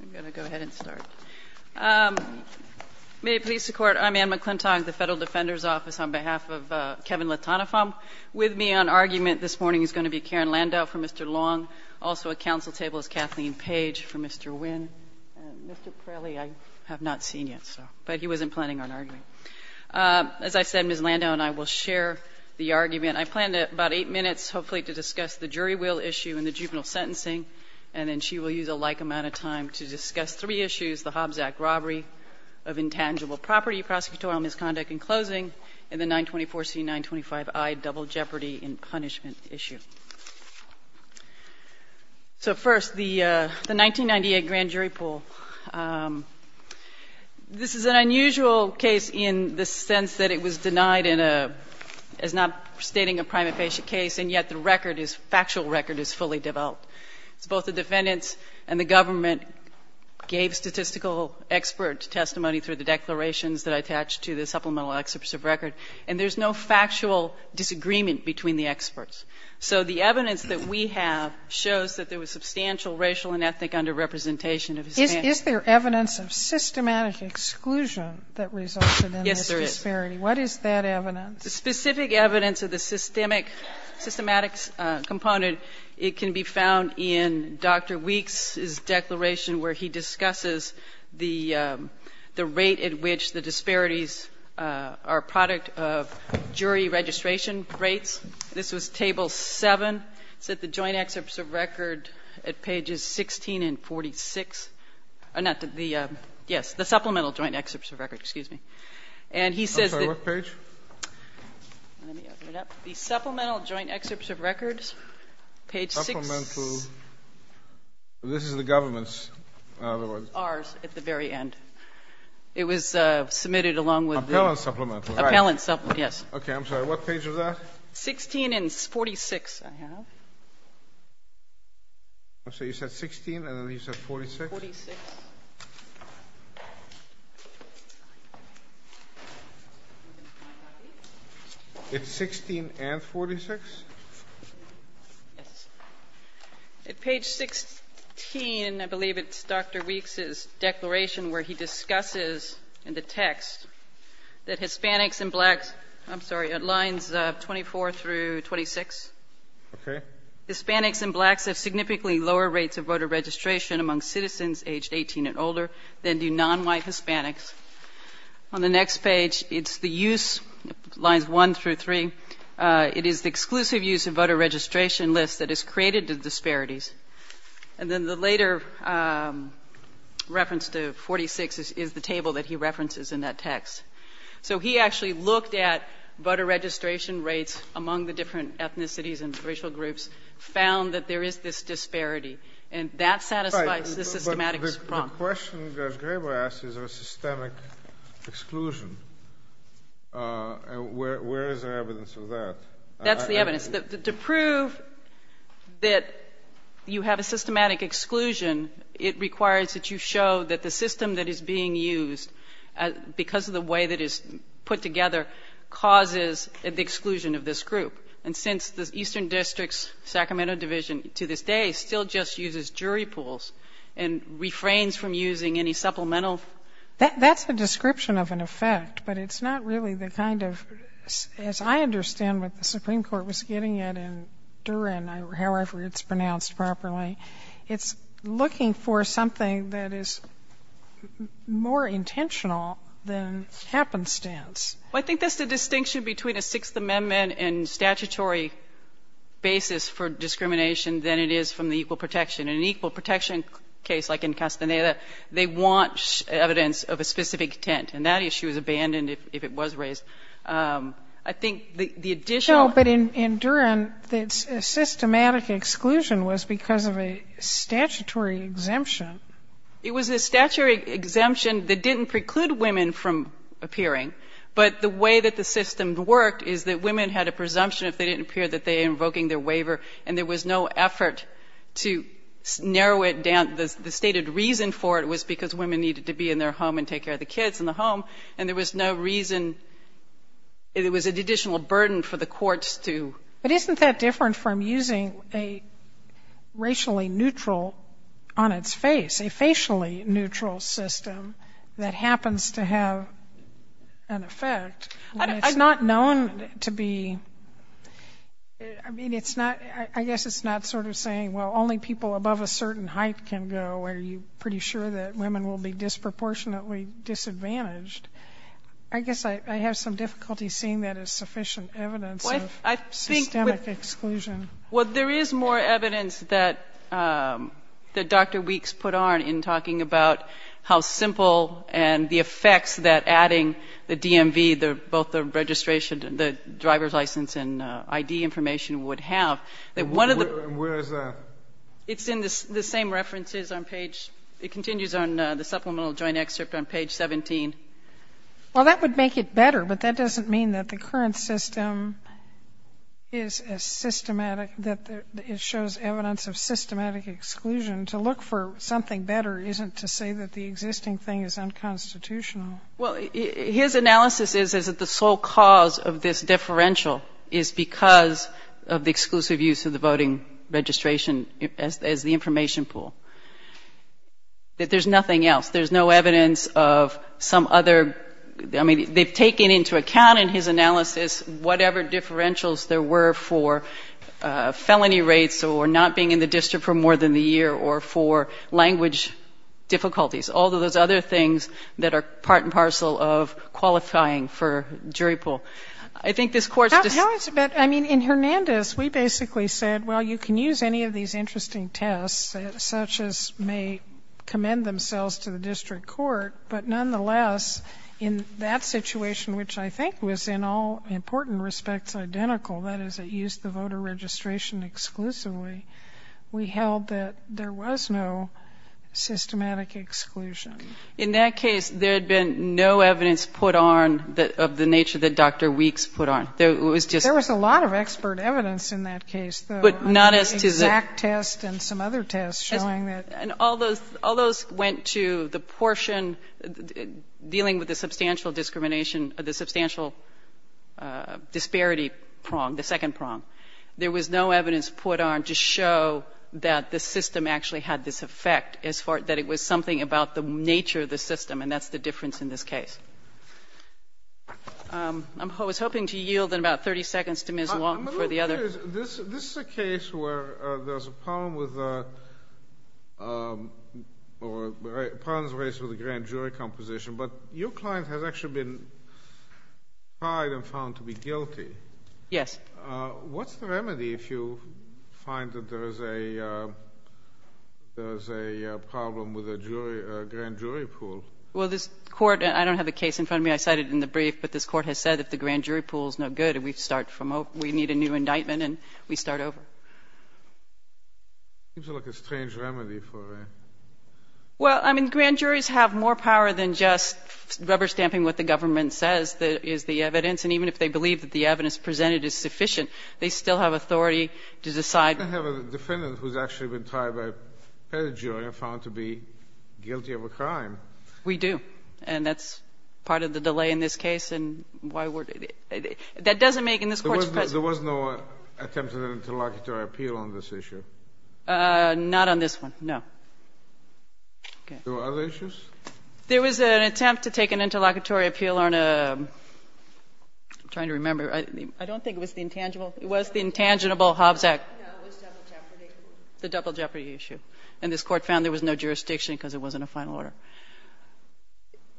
I'm going to go ahead and start. May it please the Court, I'm Anne McClintock, the Federal Defender's Office, on behalf of Kevin Litanifam. With me on argument this morning is going to be Karen Landau for Mr. Luong. Also at council table is Kathleen Page for Mr. Nguyen. Mr. Pirelli I have not seen yet, but he wasn't planning on arguing. As I said, Ms. Landau and I will share the argument. I plan about eight minutes, hopefully, to discuss the jury will issue and the juvenile sentencing, and then she will use a like amount of time to discuss three issues, the Hobbs Act robbery of intangible property, prosecutorial misconduct in closing, and the 924C-925I double jeopardy and punishment issue. So first, the 1998 grand jury pool. This is an unusual case in the sense that it was denied in a, as not stating a primate patient case, and yet the record is, factual record is fully developed. It's both the defendants and the government gave statistical expert testimony through the declarations that I attached to the supplemental excerpts of record, and there's no factual disagreement between the experts. So the evidence that we have shows that there was substantial racial and ethnic underrepresentation of his family. Sotomayor Is there evidence of systematic exclusion that resulted in this disparity? What is that evidence? The specific evidence of the systemic, systematic component, it can be found in Dr. Weeks's declaration where he discusses the rate at which the disparities are a product of jury registration rates. This was table 7. It's at the joint excerpts of record at pages 16 and 46. Yes, the supplemental joint excerpts of record, excuse me. I'm sorry, what page? Let me open it up. The supplemental joint excerpts of records, page 6. Supplemental, this is the government's. Ours, at the very end. It was submitted along with the Appellant supplemental. Appellant supplemental, yes. Okay, I'm sorry, what page was that? 16 and 46, I have. So you said 16 and then you said 46? 46. It's 16 and 46? Yes. At page 16, I believe it's Dr. Weeks's declaration where he discusses in the text that Hispanics and blacks, I'm sorry, at lines 24 through 26. Okay. Hispanics and blacks have significantly lower rates of voter registration among citizens aged 18 and older than do non-white Hispanics. On the next page, it's the use, lines 1 through 3. It is the exclusive use of voter registration lists that has created the disparities. And then the later reference to 46 is the table that he references in that text. So he actually looked at voter registration rates among the different ethnicities and racial groups, found that there is this disparity, and that satisfies the systematics problem. But the question that Gregor asked is a systemic exclusion. Where is the evidence of that? That's the evidence. To prove that you have a systematic exclusion, it requires that you show that the system that is being used, because of the way that it's put together, causes the exclusion of this group. And since the Eastern District's Sacramento Division, to this day, still just uses jury pools and refrains from using any supplemental... That's a description of an effect, but it's not really the kind of, as I understand what the Supreme Court was getting at in Durin, however it's pronounced properly, it's looking for something that is more intentional than happenstance. Well, I think that's the distinction between a Sixth Amendment and statutory basis for discrimination than it is from the equal protection. In an equal protection case, like in Castaneda, they want evidence of a specific intent, and that issue is abandoned if it was raised. I think the additional... No, but in Durin, the systematic exclusion was because of a statutory exemption. It was a statutory exemption that didn't preclude women from appearing, but the way that the system worked is that women had a presumption if they didn't appear that they were invoking their waiver, and there was no effort to narrow it down. The stated reason for it was because women needed to be in their home and take care of the kids in the home, and there was no reason. It was an additional burden for the courts to... But isn't that different from using a racially neutral on its face, a facially neutral system that happens to have an effect? It's not known to be... I mean, it's not... I guess it's not sort of saying, well, only people above a certain height can go, or you're pretty sure that women will be disproportionately disadvantaged. I guess I have some difficulty seeing that as sufficient evidence of... Systemic exclusion. Well, there is more evidence that Dr. Weeks put on in talking about how simple and the effects that adding the DMV, both the registration, the driver's license and ID information would have, that one of the... Where is that? It's in the same references on page... It continues on the supplemental joint excerpt on page 17. Well, that would make it better, but that doesn't mean that the current system is a systematic... That it shows evidence of systematic exclusion. To look for something better isn't to say that the existing thing is unconstitutional. Well, his analysis is that the sole cause of this differential is because of the exclusive use of the voting registration as the information pool. That there's nothing else. There's no evidence of some other... I mean, they've taken into account in his analysis whatever differentials there were for felony rates or not being in the district for more than the year or for language difficulties. All of those other things that are part and parcel of qualifying for jury pool. I think this court... How is it that... I mean, in Hernandez, we basically said, well, you can use any of these interesting tests such as may commend themselves to the district court, but nonetheless, in that situation, which I think was in all important respects identical, that is, it used the voter registration exclusively, we held that there was no systematic exclusion. In that case, there had been no evidence put on of the nature that Dr. Weeks put on. There was a lot of expert evidence in that case, though. But not as to the... And some other tests showing that... And all those went to the portion dealing with the substantial discrimination or the substantial disparity prong, the second prong. There was no evidence put on to show that the system actually had this effect, as far as that it was something about the nature of the system, and that's the difference in this case. I was hoping to yield in about 30 seconds to Ms. Wong for the other... This is a case where there's a problem with... or problems raised with the grand jury composition, but your client has actually been tried and found to be guilty. Yes. What's the remedy if you find that there is a problem with a grand jury pool? Well, this court... I don't have a case in front of me. I cited it in the brief, but this court has said that the grand jury pool is no good and we need a new indictment and we start over. Seems like a strange remedy for a... Well, I mean, grand juries have more power than just rubber stamping what the government says is the evidence, and even if they believe that the evidence presented is sufficient, they still have authority to decide... You don't have a defendant who's actually been tried by a grand jury and found to be guilty of a crime. We do, and that's part of the delay in this case, and that doesn't make... There was no attempt at an interlocutory appeal on this issue? Not on this one, no. Okay. There were other issues? There was an attempt to take an interlocutory appeal on a... I'm trying to remember. I don't think it was the intangible... It was the intangible Hobbs Act. No, it was double jeopardy. The double jeopardy issue, and this court found there was no jurisdiction because it wasn't a final order.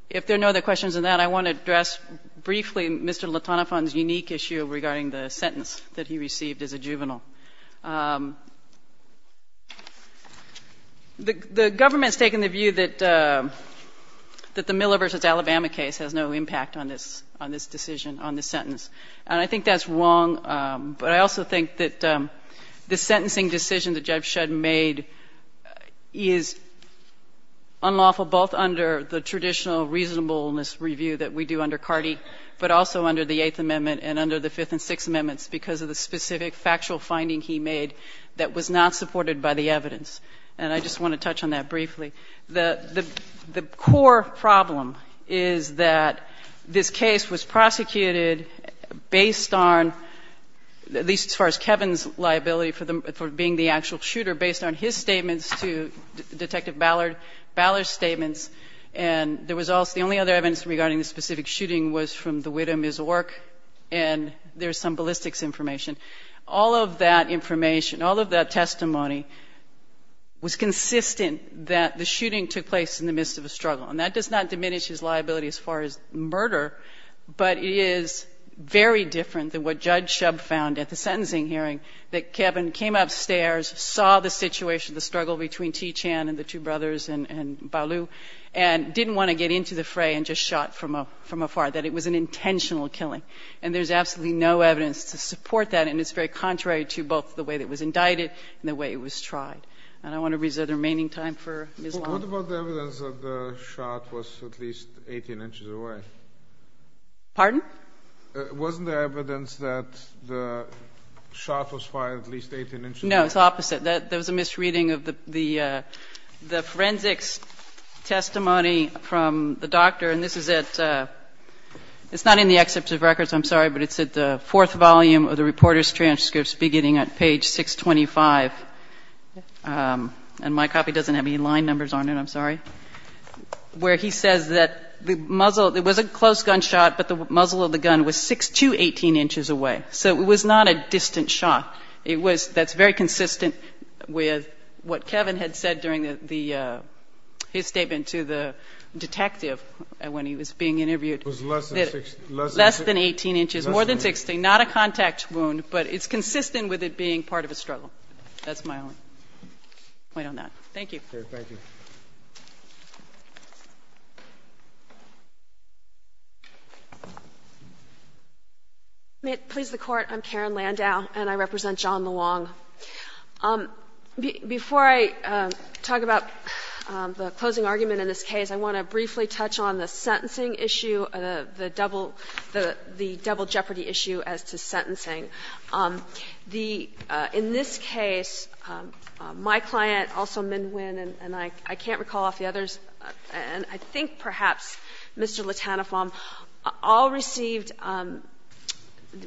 If there are no other questions on that, I want to address briefly Mr. LaTonafon's unique issue regarding the sentence that he received as a juvenile. The government's taken the view that the Miller v. Alabama case has no impact on this decision, on this sentence, and I think that's wrong, but I also think that the sentencing decision that Jeff Shedd made is unlawful both under the traditional reasonableness review that we do under Carty, but also under the Eighth Amendment and under the Fifth and Sixth Amendments because of the specific factual finding he made that was not supported by the evidence. And I just want to touch on that briefly. The core problem is that this case was prosecuted based on, at least as far as Kevin's liability for being the actual shooter, based on his statements to Detective Ballard, Ballard's statements, and there was also, the only other evidence regarding the specific shooting was from the widow, Ms. Ork, and there's some ballistics information. All of that information, all of that testimony was consistent that the shooting took place in the midst of a struggle, and that does not diminish his liability as far as murder, but it is very different than what Judge Shub found at the sentencing hearing, that Kevin came upstairs, saw the situation, the struggle between T. Chan and the two brothers and didn't want to get into the fray and just shot from afar, that it was an intentional killing. And there's absolutely no evidence to support that and it's very contrary to both the way that it was indicted and the way it was tried. And I want to reserve the remaining time for Ms. Long. What about the evidence that the shot was at least 18 inches away? Pardon? Wasn't there evidence that the shot was fired at least 18 inches away? No, it's the opposite. There was a misreading of the forensics testimony from the doctor, and this is at, it's not in the excerpt of records, I'm sorry, but it's at the fourth volume of the reporter's transcripts beginning at page 625, and my copy doesn't have any line numbers on it, I'm sorry, where he says that the muzzle, it was a close gunshot, but the muzzle of the gun was 6 to 18 inches away. So it was not a distant shot. It was, that's very consistent with what Kevin had said during the, his statement to the detective when he was being interviewed. It was less than 6, less than 18 inches, more than 16, not a contact wound, but it's consistent with it being part of a struggle. That's my only point on that. Thank you. Okay, thank you. May it please the Court, I'm Karen Landau and I represent John LeWong. Before I talk about the closing argument in this case, I want to briefly touch on the sentencing issue, the double, the double jeopardy issue as to sentencing. The, in this case, my client, also Minh Nguyen, and I can't recall off the others, and I think perhaps Mr. LeTanaflam, all received,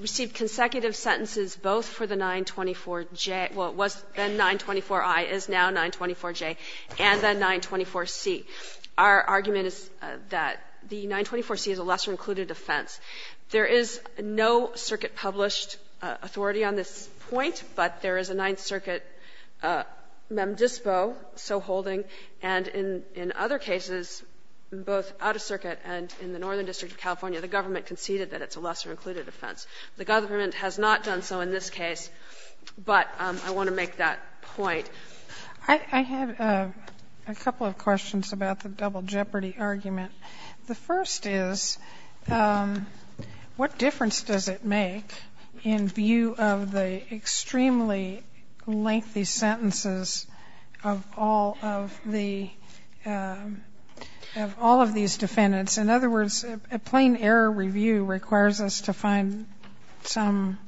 received consecutive sentences both for the 924J, well, it was then 924I, is now 924J, and then 924C. Our argument is that the 924C is a lesser included offense. There is no circuit published authority on this point, but there is a Ninth Circuit Mem Dispo, so holding, and in, in other cases, both out of circuit and in the Northern District of California, the government conceded that it's a lesser included offense. The government has not done so in this case, but I want to make that point. I, I have a couple of questions about the double jeopardy argument. The first is, what difference does it make in view of the extremely lengthy sentences of all of the, of all of these defendants? In other words, a plain error review requires us to find some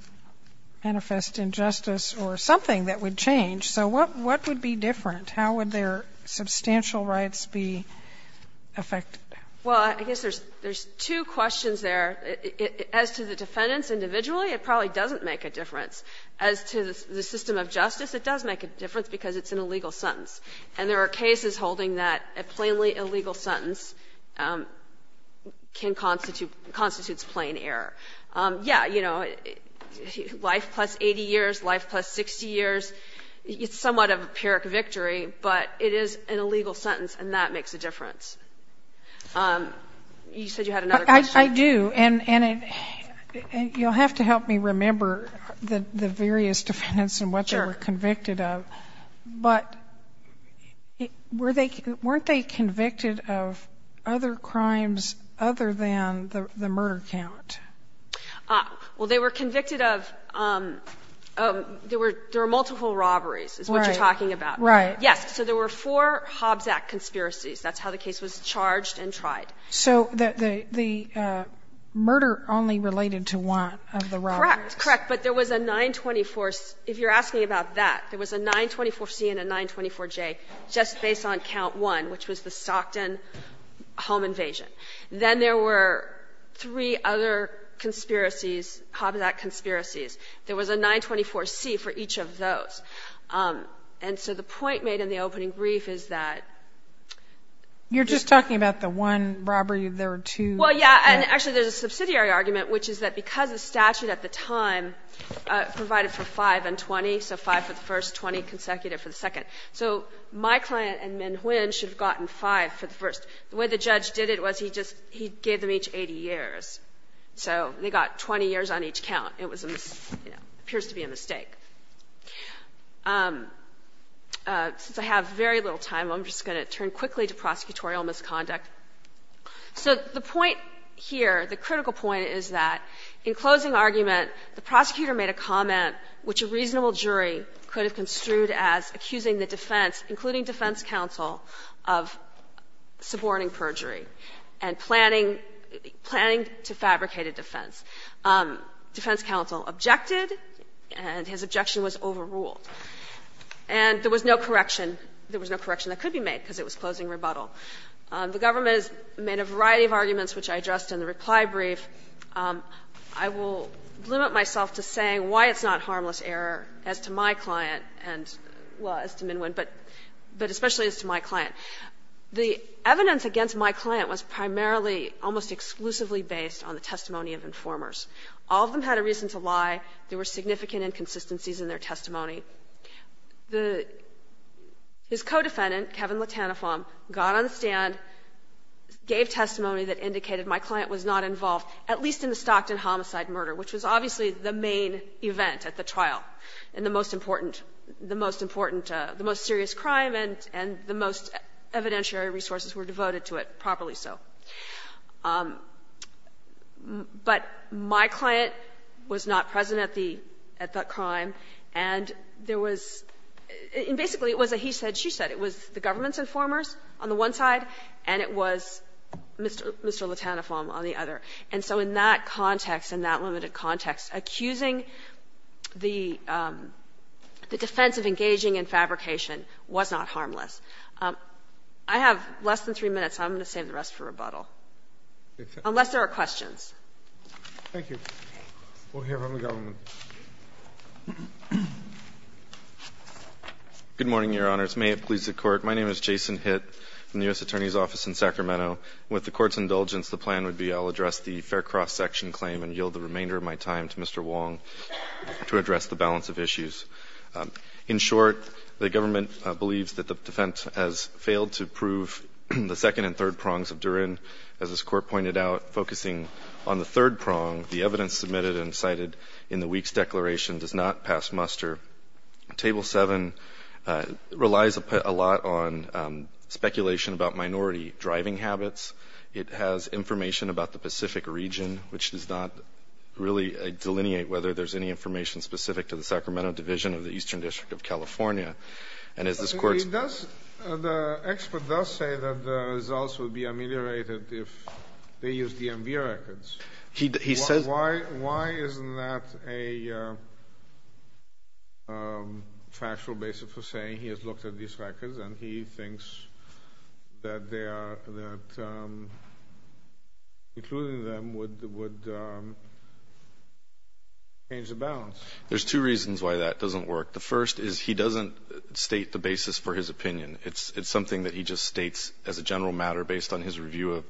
manifest injustice or something that would change. So what, what would be different? How would their substantial rights be affected? Well, I guess there's, there's two questions there. As to the defendants individually, it probably doesn't make a difference. As to the, the system of justice, it does make a difference because it's an illegal sentence, and there are cases holding that a plainly illegal sentence can constitute, constitutes plain error. Yeah, you know, life plus 80 years, life plus 60 years, it's somewhat of a pyrrhic victory, but it is an illegal sentence and that makes a difference. You said you had another question? I do, and, and you'll have to help me remember the, the various defendants and what they were convicted of. Sure. But were they, weren't they convicted of other crimes other than the, the murder count? Ah, well, they were convicted of, um, um, there were, there were multiple robberies is what you're talking about. Right. Yes. So there were four Hobbs Act conspiracies. That's how the case was charged and tried. So the, the, the, uh, murder only related to one of the robberies. Correct, correct. But there was a 924, if you're asking about that, there was a 924C and a 924J just based on count one, which was the Stockton home invasion. Then there were three other conspiracies, Hobbs Act conspiracies. There was a 924C for each of those. Um, and so the point made in the opening brief is that. You're just talking about the one robbery, there were two. Well, yeah, and actually there's a subsidiary argument, which is that because the statute at the time, uh, provided for five and 20. So five for the first 20 consecutive for the second. So my client and Minh Nguyen should have gotten five for the first. The way the judge did it was he just, he gave them each 80 years. So they got 20 years on each count. It was, you know, appears to be a mistake. Um, uh, since I have very little time, I'm just going to turn quickly to prosecutorial misconduct. So the point here, the critical point is that in closing argument, the prosecutor made a comment which a reasonable jury could have construed as accusing the defense, including defense counsel, of suborning perjury and planning, planning to fabricate a defense. Um, defense counsel objected and his objection was overruled. And there was no correction. There was no correction that could be made because it was closing rebuttal. Um, the government has made a variety of arguments, which I addressed in the reply brief. Um, I will limit myself to saying why it's not harmless error as to my client and, well, as to Minh Nguyen, but, but especially as to my client. The evidence against my client was primarily almost exclusively based on the testimony of informers. All of them had a reason to lie. There were significant inconsistencies in their testimony. The, the, his co-defendant, Kevin Latanifong, got on the stand, gave testimony that indicated my client was not involved, at least in the Stockton homicide murder, which was obviously the main event at the trial. And the most important, the most important, uh, the most serious crime and, and the most evidentiary resources were devoted to it, properly so. Um, but my client was not present at the, at that crime. And there was, and basically it was a he said, she said. It was the government's informers on the one side and it was Mr. Latanifong on the other. And so in that context, in that limited context, accusing the, um, the defense of engaging in fabrication was not harmless. Um, I have less than three minutes. I'm going to save the rest for rebuttal. Unless there are questions. Thank you. We'll hear from the government. Good morning, your honors. May it please the court. My name is Jason hit from the U.S. attorney's office in Sacramento with the court's indulgence. The plan would be I'll address the fair cross section claim and yield the remainder of my time to Mr. Wong to address the balance of issues. Um, in short, the government believes that the defense has failed to prove the second and third prongs of during, as this court pointed out, focusing on the third prong, the evidence submitted and cited in the week's declaration does not pass muster. Table seven, uh, relies a lot on, um, speculation about minority driving habits. It has information about the Pacific region, which does not really delineate whether there's any information specific to the Sacramento division of the Eastern district of California. And as this court does, the expert does say that the results will be ameliorated. If they use DMV records, he, he says, why, why isn't that a, uh, um, factual basis for saying he has looked at these records and he thinks that they are, that, um, including them would, would, um, change the balance. There's two reasons why that doesn't work. The first is he doesn't state the basis for his opinion. It's, it's something that he just states as a general matter based on his review of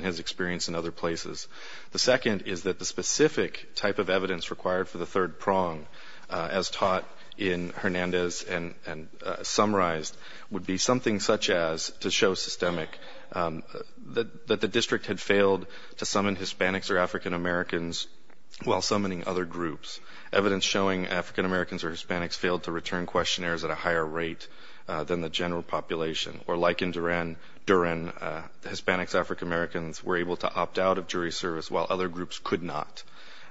his experience in other places. The second is that the specific type of evidence required for the third prong, uh, as taught in Hernandez and, and, uh, summarized would be something such as to show systemic, um, that, that the district had failed to summon Hispanics or African Americans while summoning other groups, evidence showing African Americans or Hispanics failed to return questionnaires at a higher rate, uh, than the general population or like in Duran, Duran, uh, Hispanics, African Americans were able to opt out of jury service while other groups could not,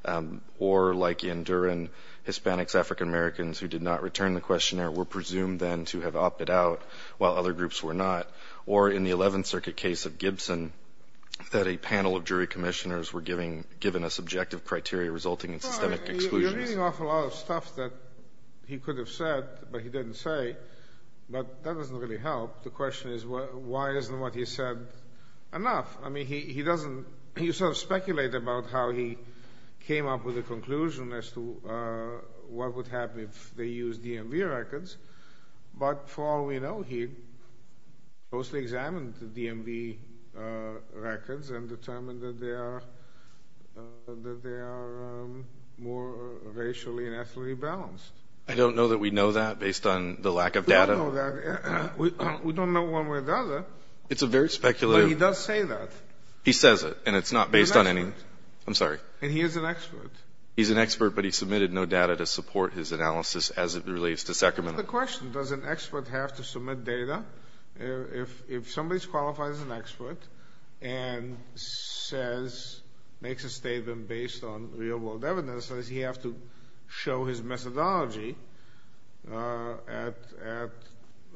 um, or like in Duran, Hispanics, African Americans who did not return the questionnaire were presumed then to have opted out while other groups were not or in the 11th circuit case of Gibson that a panel of jury commissioners were giving, given a subjective criteria resulting in systemic exclusion. You're reading off a lot of stuff that he could have said, but he didn't say, but that doesn't really help. The question is why, why isn't what he said enough? I mean, he, he doesn't, you sort of speculate about how he came up with a conclusion as to, uh, what would happen if they use DMV records, but for all we know, he mostly examined the DMV, uh, records and determined that they are, uh, that they are, um, more racially and ethically balanced. I don't know that we know that based on the lack of data. We don't know that. We don't know one way or the other. It's a very speculative. But he does say that. He says it, and it's not based on any, I'm sorry. And he is an expert. He's an expert, but he submitted no data to support his analysis as it relates to Sacramento. That's the question. Does an expert have to submit data? If, if somebody's qualified as an expert and says, makes a statement based on real world evidence, does he have to show his methodology, uh, at, at,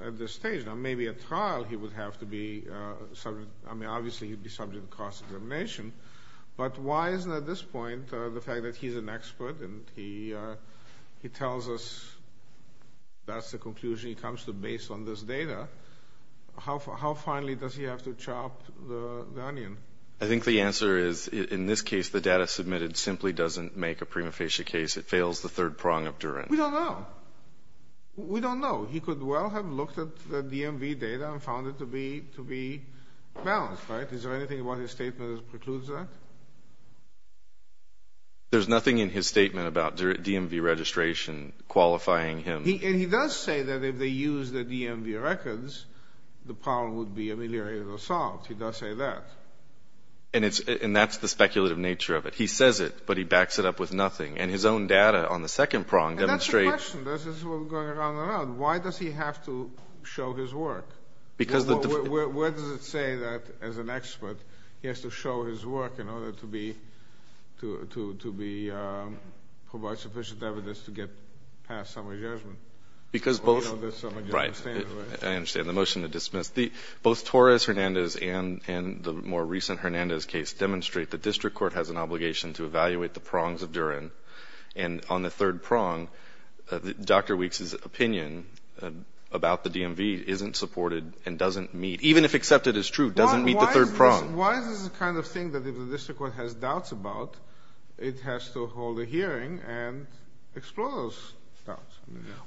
at this stage? Now, maybe at trial he would have to be, uh, subject, I mean, obviously he'd be subject to cross-examination. But why is it at this point, uh, the fact that he's an expert and he, uh, he tells us that's the conclusion he comes to based on this data? How, how finally does he have to chop the, the onion? I think the answer is, in this case, the data submitted simply doesn't make a prima facie case. It fails the third prong of Durin. We don't know. We don't know. He could well have looked at the DMV data and found it to be, to be balanced, right? Is there anything about his statement that precludes that? There's nothing in his statement about DMV registration qualifying him. He, and he does say that if they use the DMV records, the problem would be ameliorated or solved. He does say that. And it's, and that's the speculative nature of it. He says it, but he backs it up with nothing. And his own data on the second prong demonstrate- And that's the question. This is what we're going around and around. Why does he have to show his work? Because the- Where, where does it say that as an expert, he has to show his work in order to be, to, to, to be, um, provide sufficient evidence to get past summary judgment? Because both- Well, you know this summary judgment statement, right? I understand. The motion to dismiss. The, the, both Torres Hernandez and, and the more recent Hernandez case demonstrate the district court has an obligation to evaluate the prongs of Durin. And on the third prong, uh, Dr. Weeks' opinion, uh, about the DMV isn't supported and doesn't meet, even if accepted as true, doesn't meet the third prong. Why is this, why is this the kind of thing that if the district court has doubts about, it has to hold a hearing and explore those doubts?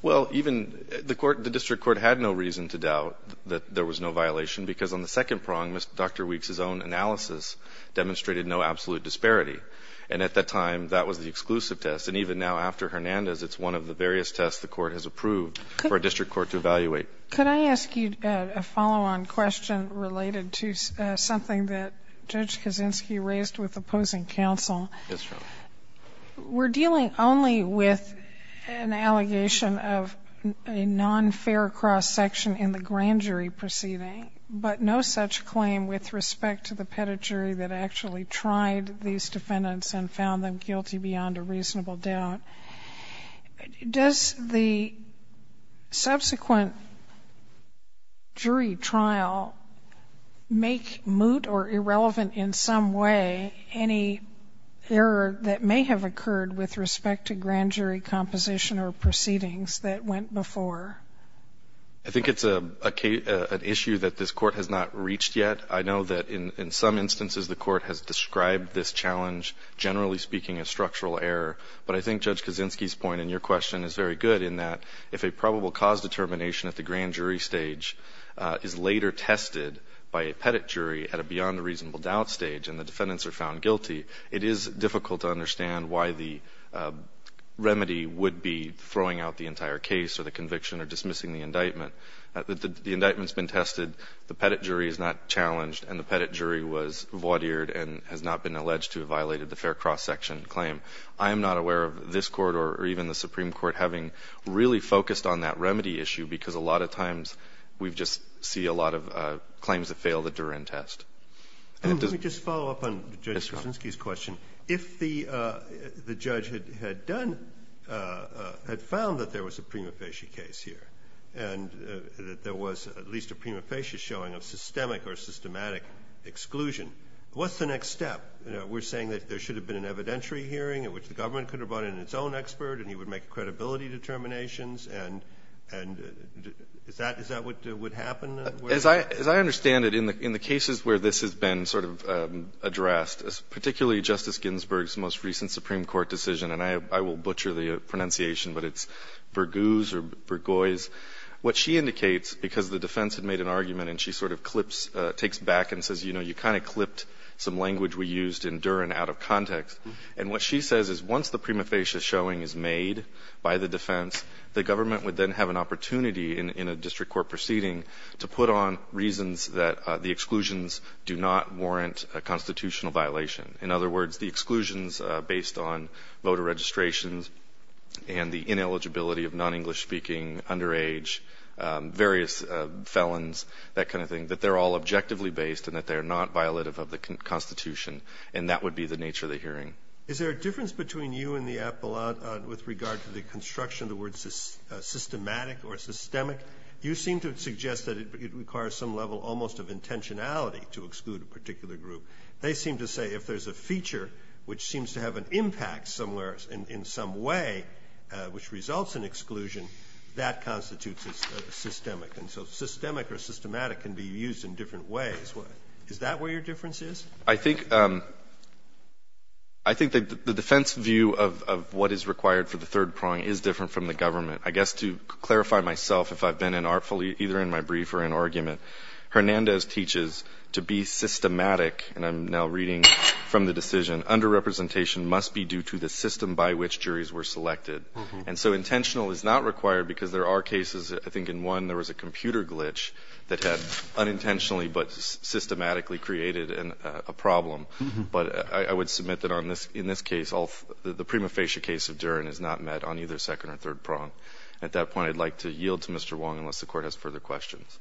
Well, even the court, the district court had no reason to doubt that there was no violation of the third prong. There was no violation because on the second prong, Dr. Weeks' own analysis demonstrated no absolute disparity. And at that time, that was the exclusive test. And even now, after Hernandez, it's one of the various tests the court has approved for a district court to evaluate. Could I ask you, uh, a follow-on question related to, uh, something that Judge Kaczynski raised with opposing counsel? Yes, Your Honor. We're dealing only with an allegation of a non-fair cross-section in the grand jury proceeding. Okay. But no such claim with respect to the pedigree that actually tried these defendants and found them guilty beyond a reasonable doubt. Does the subsequent jury trial make moot or irrelevant in some way any error that may have occurred with respect to grand jury composition or proceedings that went before? I think it's a, uh, an issue that this court has not reached yet. I know that in, in some instances, the court has described this challenge, generally speaking, a structural error. But I think Judge Kaczynski's point in your question is very good in that if a probable cause determination at the grand jury stage, uh, is later tested by a pedigree at a beyond a reasonable doubt stage and the defendants are found guilty, it is difficult to understand why the, uh, the pedigree is not challenged and the pedigree was void eared and has not been alleged to have violated the fair cross section claim. I am not aware of this court or even the Supreme Court having really focused on that remedy issue because a lot of times we've just see a lot of, uh, claims that failed the Duren test. And let me just follow up on Judge Kaczynski's question. If the, uh, the judge had, had done, uh, uh, had found that there was a prima facie case here, and, uh, that there was at least a prima facie showing of systemic or systematic exclusion. What's the next step? You know, we're saying that there should have been an evidentiary hearing at which the government could have brought in its own expert and he would make credibility determinations. And, and is that, is that what would happen? As I, as I understand it in the, in the cases where this has been sort of, um, addressed as particularly Justice Ginsburg's most recent Supreme Court decision. And I, I will butcher the pronunciation, but it's Berguse or Bergoyes. What she indicates, because the defense had made an argument and she sort of clips, uh, takes back and says, you know, you kind of clipped some language we used in Duren out of context. And what she says is once the prima facie showing is made by the defense, the government would then have an opportunity in, in a district court proceeding to put on reasons that, uh, the exclusions do not warrant a constitutional violation. In other words, the exclusions, uh, based on voter registrations and the ineligibility of non-English speaking underage, um, various, uh, felons, that kind of thing, that they're all objectively based and that they are not violative of the constitution. And that would be the nature of the hearing. Is there a difference between you and the app a lot with regard to the construction of the word, uh, systematic or systemic? You seem to suggest that it, it requires some level almost of intentionality to exclude a particular group. They seem to say if there's a feature, which seems to have an impact somewhere in, in some way, uh, which results in exclusion, that constitutes a systemic. And so systemic or systematic can be used in different ways. What is that where your difference is? I think, um, I think that the defense view of, of what is required for the third prong is different from the government. I guess to clarify myself, if I've been in artfully either in my brief or in argument, Hernandez teaches to be systematic. And I'm now reading from the decision under representation must be due to the system by which juries were selected. And so intentional is not required because there are cases. I think in one, there was a computer glitch that had unintentionally, but systematically created a problem. But I would submit that on this, in this case, all the prima facie case of Duran is not met on either second or third prong. At that point, I'd like to yield to Mr. Wong, unless the court has further questions.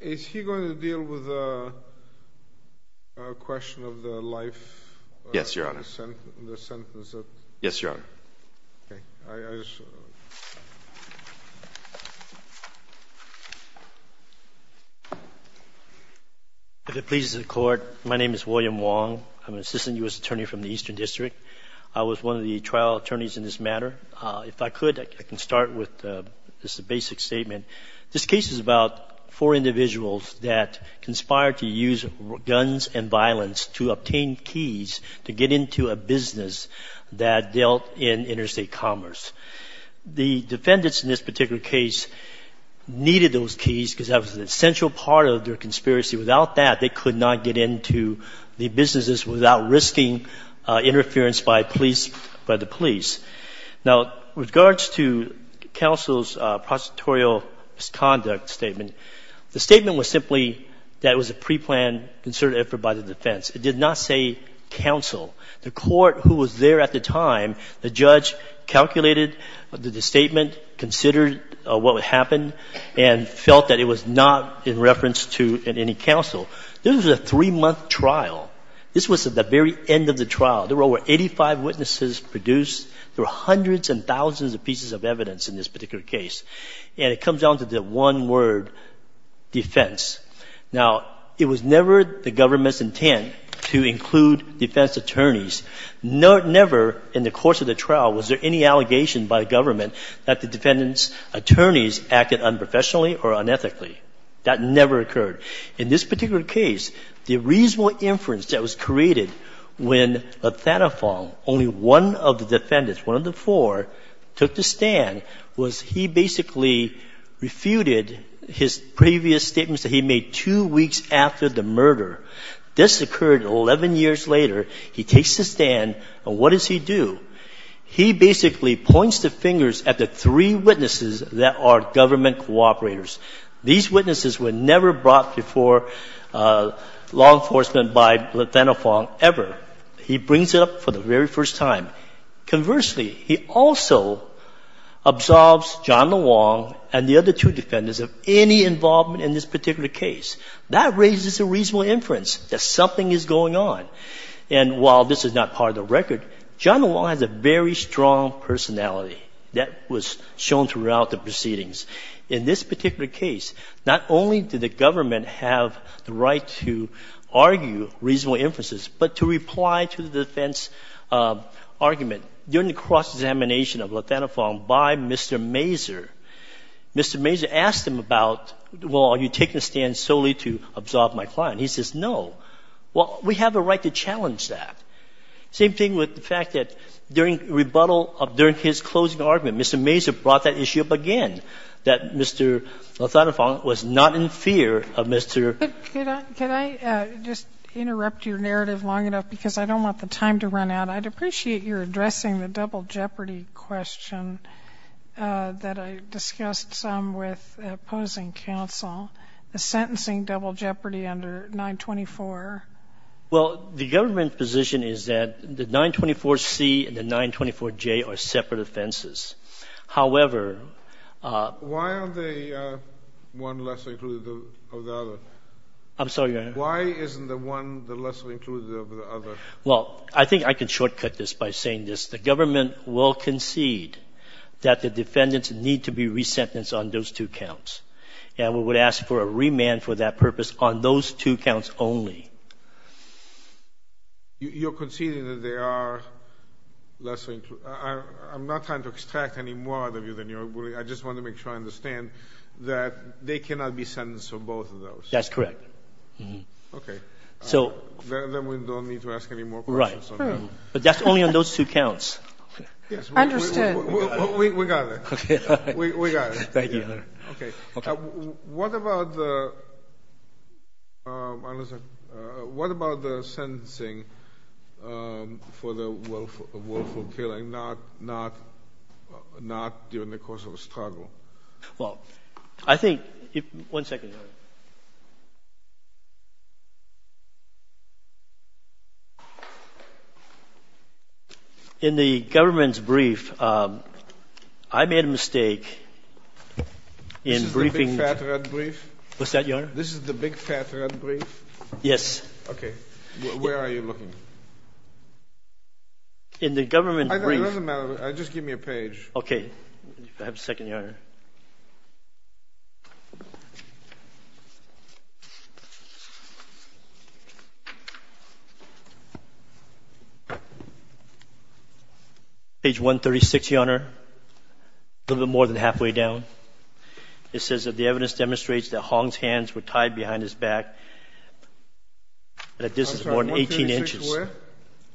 Is he going to deal with, uh, a question of the life? Yes, Your Honor. The sentence. Yes, Your Honor. Okay. If it pleases the court, my name is William Wong. I'm an assistant U.S. attorney from the Eastern district. I was one of the trial attorneys in this matter. Uh, if I could, I can start with, uh, just a basic statement. This case is about four individuals that conspired to use guns and violence to obtain keys to get into a business that dealt in interstate commerce. The defendants in this particular case needed those keys because that was an essential part of their conspiracy. Without that, they could not get into the businesses without risking, uh, interference by police, by the police. Now, with regards to counsel's, uh, prosecutorial misconduct statement, the statement was simply that it was a preplanned, concerted effort by the defense. It did not say counsel. The court who was there at the time, the judge calculated the statement, considered, uh, what would happen, and felt that it was not in reference to any counsel. This was a three-month trial. This was at the very end of the trial. There were over 85 witnesses produced. There were hundreds and thousands of pieces of evidence in this particular case. And it comes down to the one word, defense. Now, it was never the government's intent to include defense attorneys. Never in the course of the trial was there any allegation by the government that the defendant's attorneys acted unprofessionally or unethically. That never occurred. In this particular case, the reasonable inference that was created when Lathanafong, only one of the defendants, one of the four, took the stand was he basically refuted his previous statements that he made two weeks after the murder. This occurred 11 years later. He takes the stand, and what does he do? He basically points the fingers at the three witnesses that are government cooperators. These witnesses were never brought before law enforcement by Lathanafong ever. He brings it up for the very first time. Conversely, he also absolves John LeWong and the other two defendants of any involvement in this particular case. That raises a reasonable inference that something is going on. And while this is not part of the record, John LeWong has a very strong personality that was shown throughout the proceedings. In this particular case, not only did the government have the right to argue reasonable inferences, but to reply to the defense argument during the cross-examination of Lathanafong by Mr. Mazur. Mr. Mazur asked him about, well, are you taking a stand solely to absolve my client? He says, no. Well, we have a right to challenge that. Same thing with the fact that during rebuttal of his closing argument, Mr. Mazur brought that issue up again, that Mr. Lathanafong was not in fear of Mr. Can I just interrupt your narrative long enough? Because I don't want the time to run out. I'd appreciate your addressing the double jeopardy question that I discussed some with opposing counsel, the sentencing double jeopardy under 924. Well, the government position is that the 924C and the 924J are separate offenses. However, Why aren't they one lesser included of the other? I'm sorry, Your Honor. Why isn't the one the lesser included of the other? Well, I think I can shortcut this by saying this. The government will concede that the defendants need to be resentenced on those two counts. And we would ask for a remand for that purpose on those two counts only. You're conceding that they are lesser included. I'm not trying to extract any more out of you than you're willing. I just want to make sure I understand that they cannot be sentenced for both of those. That's correct. Okay. Then we don't need to ask any more questions. Right. But that's only on those two counts. Yes. Understood. We got it. We got it. Thank you, Your Honor. Okay. What about the sentencing for the willful killing, not during the course of a struggle? Well, I think — one second, Your Honor. In the government's brief, I made a mistake in briefing — This is the big fat red brief? What's that, Your Honor? This is the big fat red brief? Yes. Okay. Where are you looking? In the government brief — It doesn't matter. Just give me a page. Okay. I have a second, Your Honor. Page 136, Your Honor. A little bit more than halfway down. It says that the evidence demonstrates that Hong's hands were tied behind his back at a distance of more than 18 inches. I'm sorry.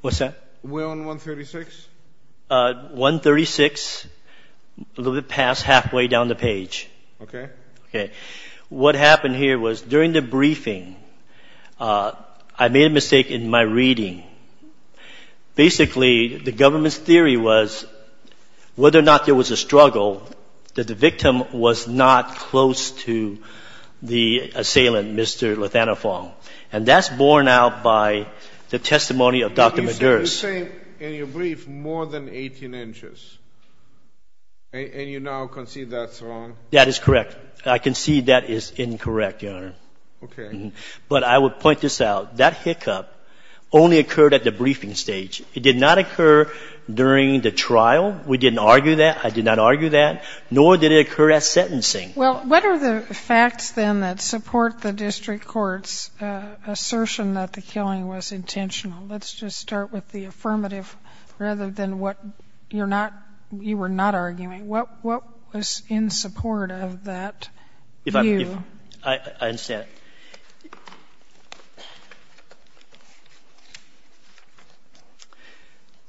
136 where? What's that? Where on 136? 136, a little bit past halfway down the page. Okay. Okay. What happened here was, during the briefing, I made a mistake in my reading. Basically, the government's theory was, whether or not there was a struggle, that the victim was not close to the assailant, Mr. Lathanafong. And that's borne out by the testimony of Dr. McGurk. You're saying, in your brief, more than 18 inches. And you now concede that's wrong? That is correct. I concede that is incorrect, Your Honor. Okay. But I would point this out. That hiccup only occurred at the briefing stage. It did not occur during the trial. We didn't argue that. I did not argue that. Nor did it occur at sentencing. Well, what are the facts, then, that support the district court's assertion that the killing was intentional? Let's just start with the affirmative, rather than what you're not — you were not arguing. What was in support of that view? I understand.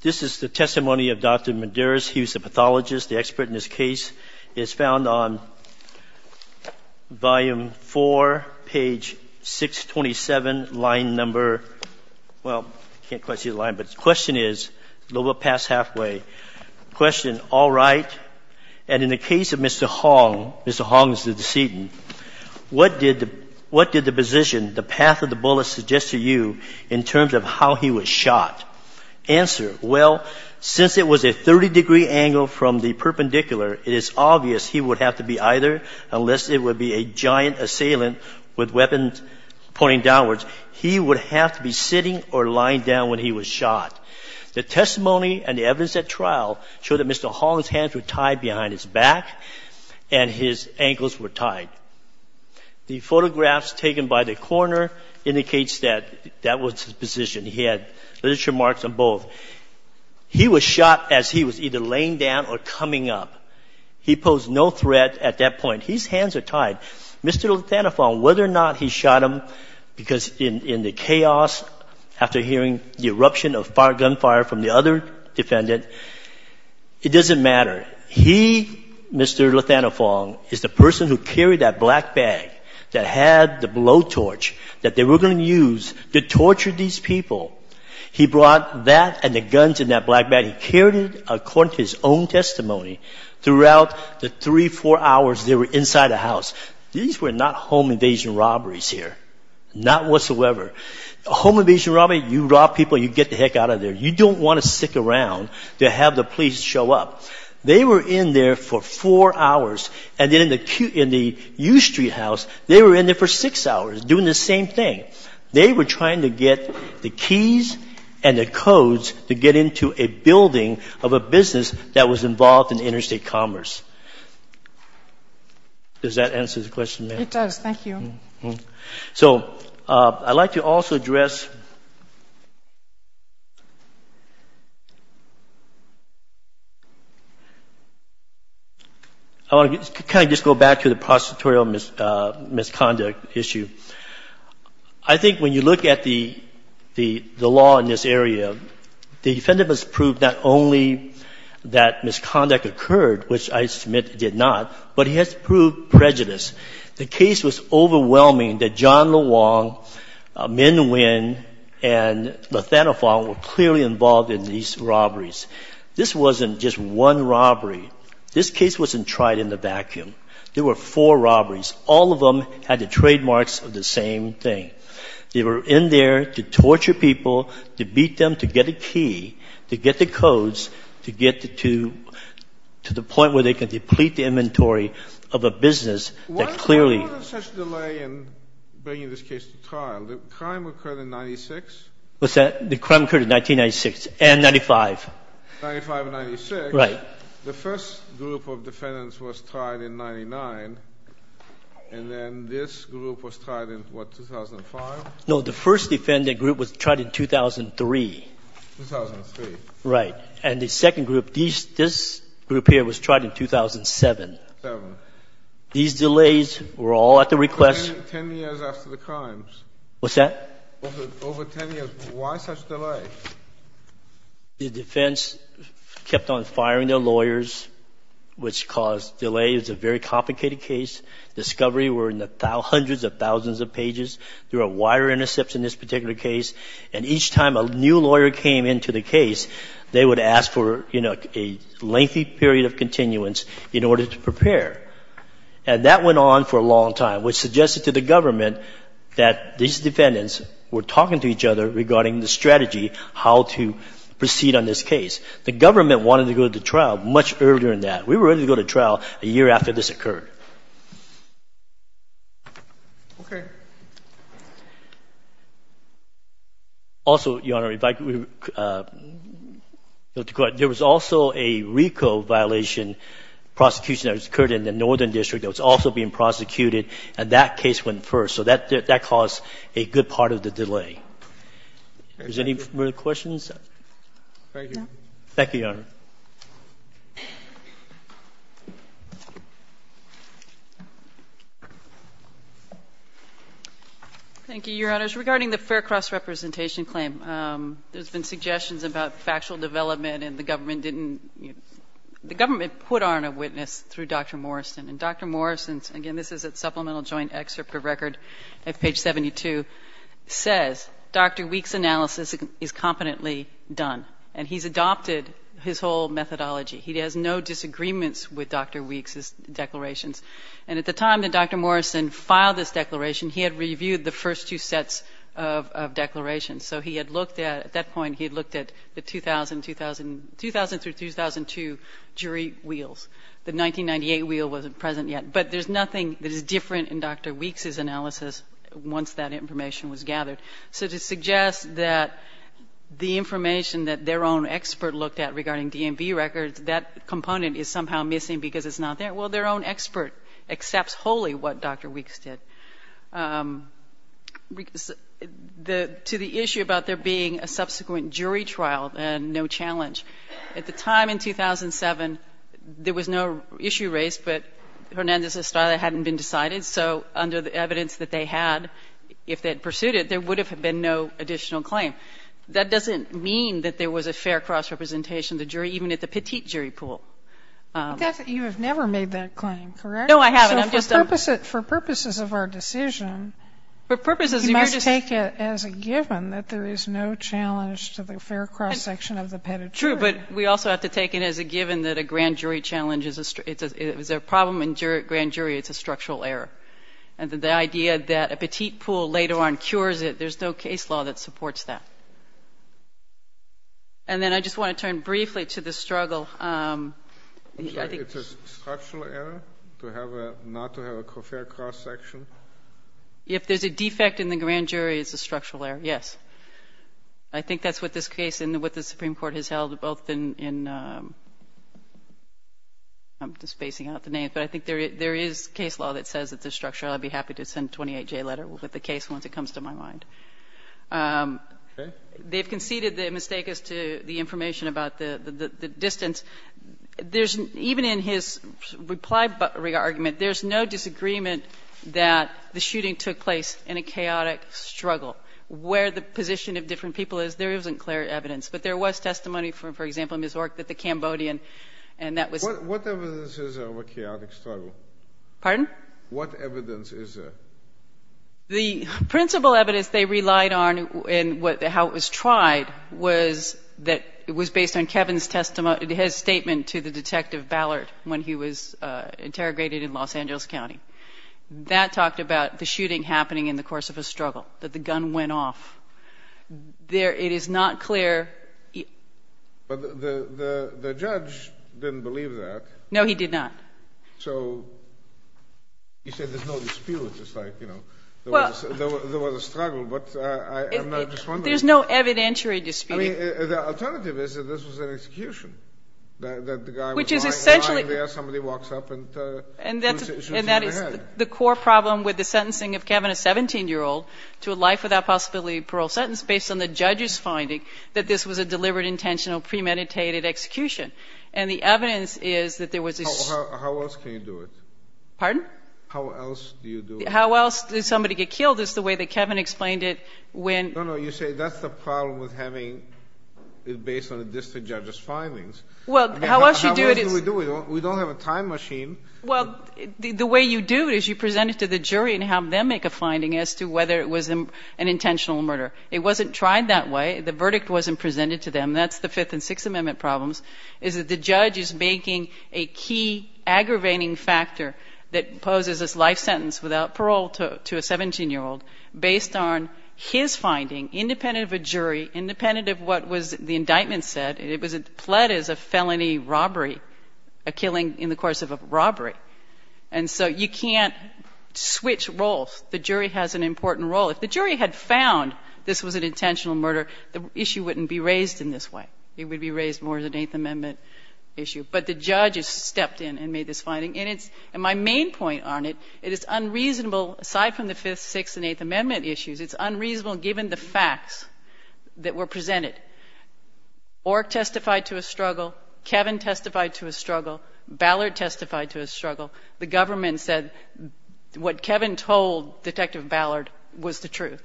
This is the testimony of Dr. Medeiros. He was a pathologist, the expert in this case. It's found on volume 4, page 627, line number — well, I can't quite see the line, but the question is, a little bit past halfway. The question, all right. And in the case of Mr. Hong, Mr. Hong is the decedent. What did the position, the path of the bullet, suggest to you in terms of how he was shot? Answer. Well, since it was a 30-degree angle from the perpendicular, it is obvious he would have to be either, unless it would be a giant assailant with weapons pointing downwards, he would have to be sitting or lying down when he was shot. The testimony and the evidence at trial showed that Mr. Hong's hands were tied behind his back and his ankles were tied. The photographs taken by the coroner indicates that that was his position. He had literature marks on both. He was shot as he was either laying down or coming up. He posed no threat at that point. His hands are tied. Mr. Le Thanaphong, whether or not he shot him, because in the chaos after hearing the eruption of gunfire from the other defendant, it doesn't matter. He, Mr. Le Thanaphong, is the person who carried that black bag that had the blowtorch that they were going to use to torture these people. He brought that and the guns in that black bag. He carried it, according to his own testimony, throughout the three, four hours they were inside the house. These were not home invasion robberies here, not whatsoever. Home invasion robbery, you rob people, you get the heck out of there. You don't want to stick around to have the police show up. They were in there for four hours. And then in the U Street house, they were in there for six hours doing the same thing. They were trying to get the keys and the codes to get into a building of a business that was involved in interstate commerce. Does that answer the question, ma'am? It does. Thank you. So I'd like to also address, I want to kind of just go back to the prosecutorial misconduct issue. I think when you look at the law in this area, the defendant has proved not only that misconduct occurred, which I submit did not, but he has proved prejudice. The case was overwhelming that John LeWong, Minh Nguyen, and LeThanofong were clearly involved in these robberies. This wasn't just one robbery. This case wasn't tried in a vacuum. There were four robberies. All of them had the trademarks of the same thing. They were in there to torture people, to beat them to get a key, to get the codes, to get to the point where they could deplete the inventory of a business that clearly Why was there such delay in bringing this case to trial? The crime occurred in 1996? What's that? The crime occurred in 1996 and 95. 95 and 96. Right. The first group of defendants was tried in 99, and then this group was tried in what, 2005? No, the first defendant group was tried in 2003. 2003. Right. And the second group, this group here, was tried in 2007. 2007. These delays were all at the request of Ten years after the crimes. What's that? Over ten years. Why such delay? The defense kept on firing their lawyers, which caused delay. It's a very complicated case. Discovery were in the hundreds of thousands of pages. There were wire intercepts in this particular case. And each time a new lawyer came into the case, they would ask for, you know, a lengthy period of continuance in order to prepare. And that went on for a long time, which suggested to the government that these defendants were talking to each other regarding the strategy how to proceed on this case. The government wanted to go to trial much earlier than that. We were ready to go to trial a year after this occurred. Okay. Thank you, Your Honor. Also, Your Honor, if I could, there was also a RICO violation prosecution that occurred in the Northern District that was also being prosecuted, and that case went first. So that caused a good part of the delay. Is there any further questions? No. Thank you, Your Honor. Thank you, Your Honors. Regarding the fair cross-representation claim, there's been suggestions about factual development, and the government didn't, the government put on a witness through Dr. Morrison. And Dr. Morrison's, again, this is a supplemental joint excerpt of record at page 72, says Dr. Weeks' analysis is competently done. And he's adopted his whole methodology. He has no disagreements with Dr. Weeks' declarations. And at the time that Dr. Morrison filed this declaration, he had reviewed the first two sets of declarations. So he had looked at, at that point, he had looked at the 2000-2002 jury wheels. The 1998 wheel wasn't present yet. But there's nothing that is different in Dr. Weeks' analysis once that information was gathered. So to suggest that the information that their own expert looked at regarding DMV records, that component is somehow missing because it's not there. Well, their own expert accepts wholly what Dr. Weeks did. To the issue about there being a subsequent jury trial, no challenge. At the time in 2007, there was no issue raised, but Hernandez Estrada hadn't been decided. So under the evidence that they had, if they had pursued it, there would have been no additional claim. That doesn't mean that there was a fair cross representation of the jury, even at the petite jury pool. You have never made that claim, correct? No, I haven't. For purposes of our decision, you must take it as a given that there is no challenge to the fair cross section of the petit jury. True, but we also have to take it as a given that a grand jury challenge is a problem. In grand jury, it's a structural error. And the idea that a petite pool later on cures it, there's no case law that supports that. And then I just want to turn briefly to the struggle. I'm sorry, it's a structural error not to have a fair cross section? If there's a defect in the grand jury, it's a structural error, yes. I think that's what this case and what the Supreme Court has held, both in, I'm just spacing out the names, but I think there is case law that says it's a structural error. I'd be happy to send a 28-J letter with the case once it comes to my mind. Okay. They've conceded the mistake as to the information about the distance. Even in his reply argument, there's no disagreement that the shooting took place in a chaotic struggle. Where the position of different people is, there isn't clear evidence. But there was testimony from, for example, Ms. Ork that the Cambodian, and that was- What evidence is there of a chaotic struggle? Pardon? What evidence is there? The principal evidence they relied on and how it was tried was that it was based on Kevin's testimony, his statement to the Detective Ballard when he was interrogated in Los Angeles County. That talked about the shooting happening in the course of a struggle, that the gun went off. It is not clear. But the judge didn't believe that. No, he did not. So you said there's no dispute. It's like, you know, there was a struggle, but I'm not just wondering- There's no evidentiary dispute. I mean, the alternative is that this was an execution, that the guy was lying there- Which is essentially- Somebody walks up and shoots him in the head. The core problem with the sentencing of Kevin, a 17-year-old, to a life without possibility of parole sentence, based on the judge's finding that this was a deliberate, intentional, premeditated execution. And the evidence is that there was- How else can you do it? Pardon? How else do you do it? How else did somebody get killed is the way that Kevin explained it when- No, no, you say that's the problem with having it based on a distant judge's findings. How else do we do it? We don't have a time machine. Well, the way you do it is you present it to the jury and have them make a finding as to whether it was an intentional murder. It wasn't tried that way. The verdict wasn't presented to them. That's the Fifth and Sixth Amendment problems, is that the judge is making a key aggravating factor that poses this life sentence without parole to a 17-year-old based on his finding, independent of a jury, independent of what was the indictment said. It was pled as a felony robbery, a killing in the course of a robbery. And so you can't switch roles. The jury has an important role. If the jury had found this was an intentional murder, the issue wouldn't be raised in this way. It would be raised more as an Eighth Amendment issue. But the judge has stepped in and made this finding. And my main point on it, it is unreasonable, aside from the Fifth, Sixth, and Eighth Amendment issues, it's unreasonable given the facts that were presented. Ork testified to a struggle. Kevin testified to a struggle. Ballard testified to a struggle. The government said what Kevin told Detective Ballard was the truth.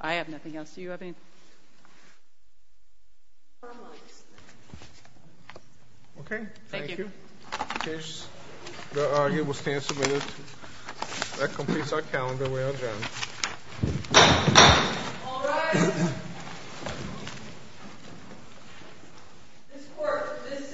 I have nothing else. Do you have anything? Okay. Thank you. The argument will stand submitted. That completes our calendar. We are adjourned. All rise. This court, for this session, is standing adjourned.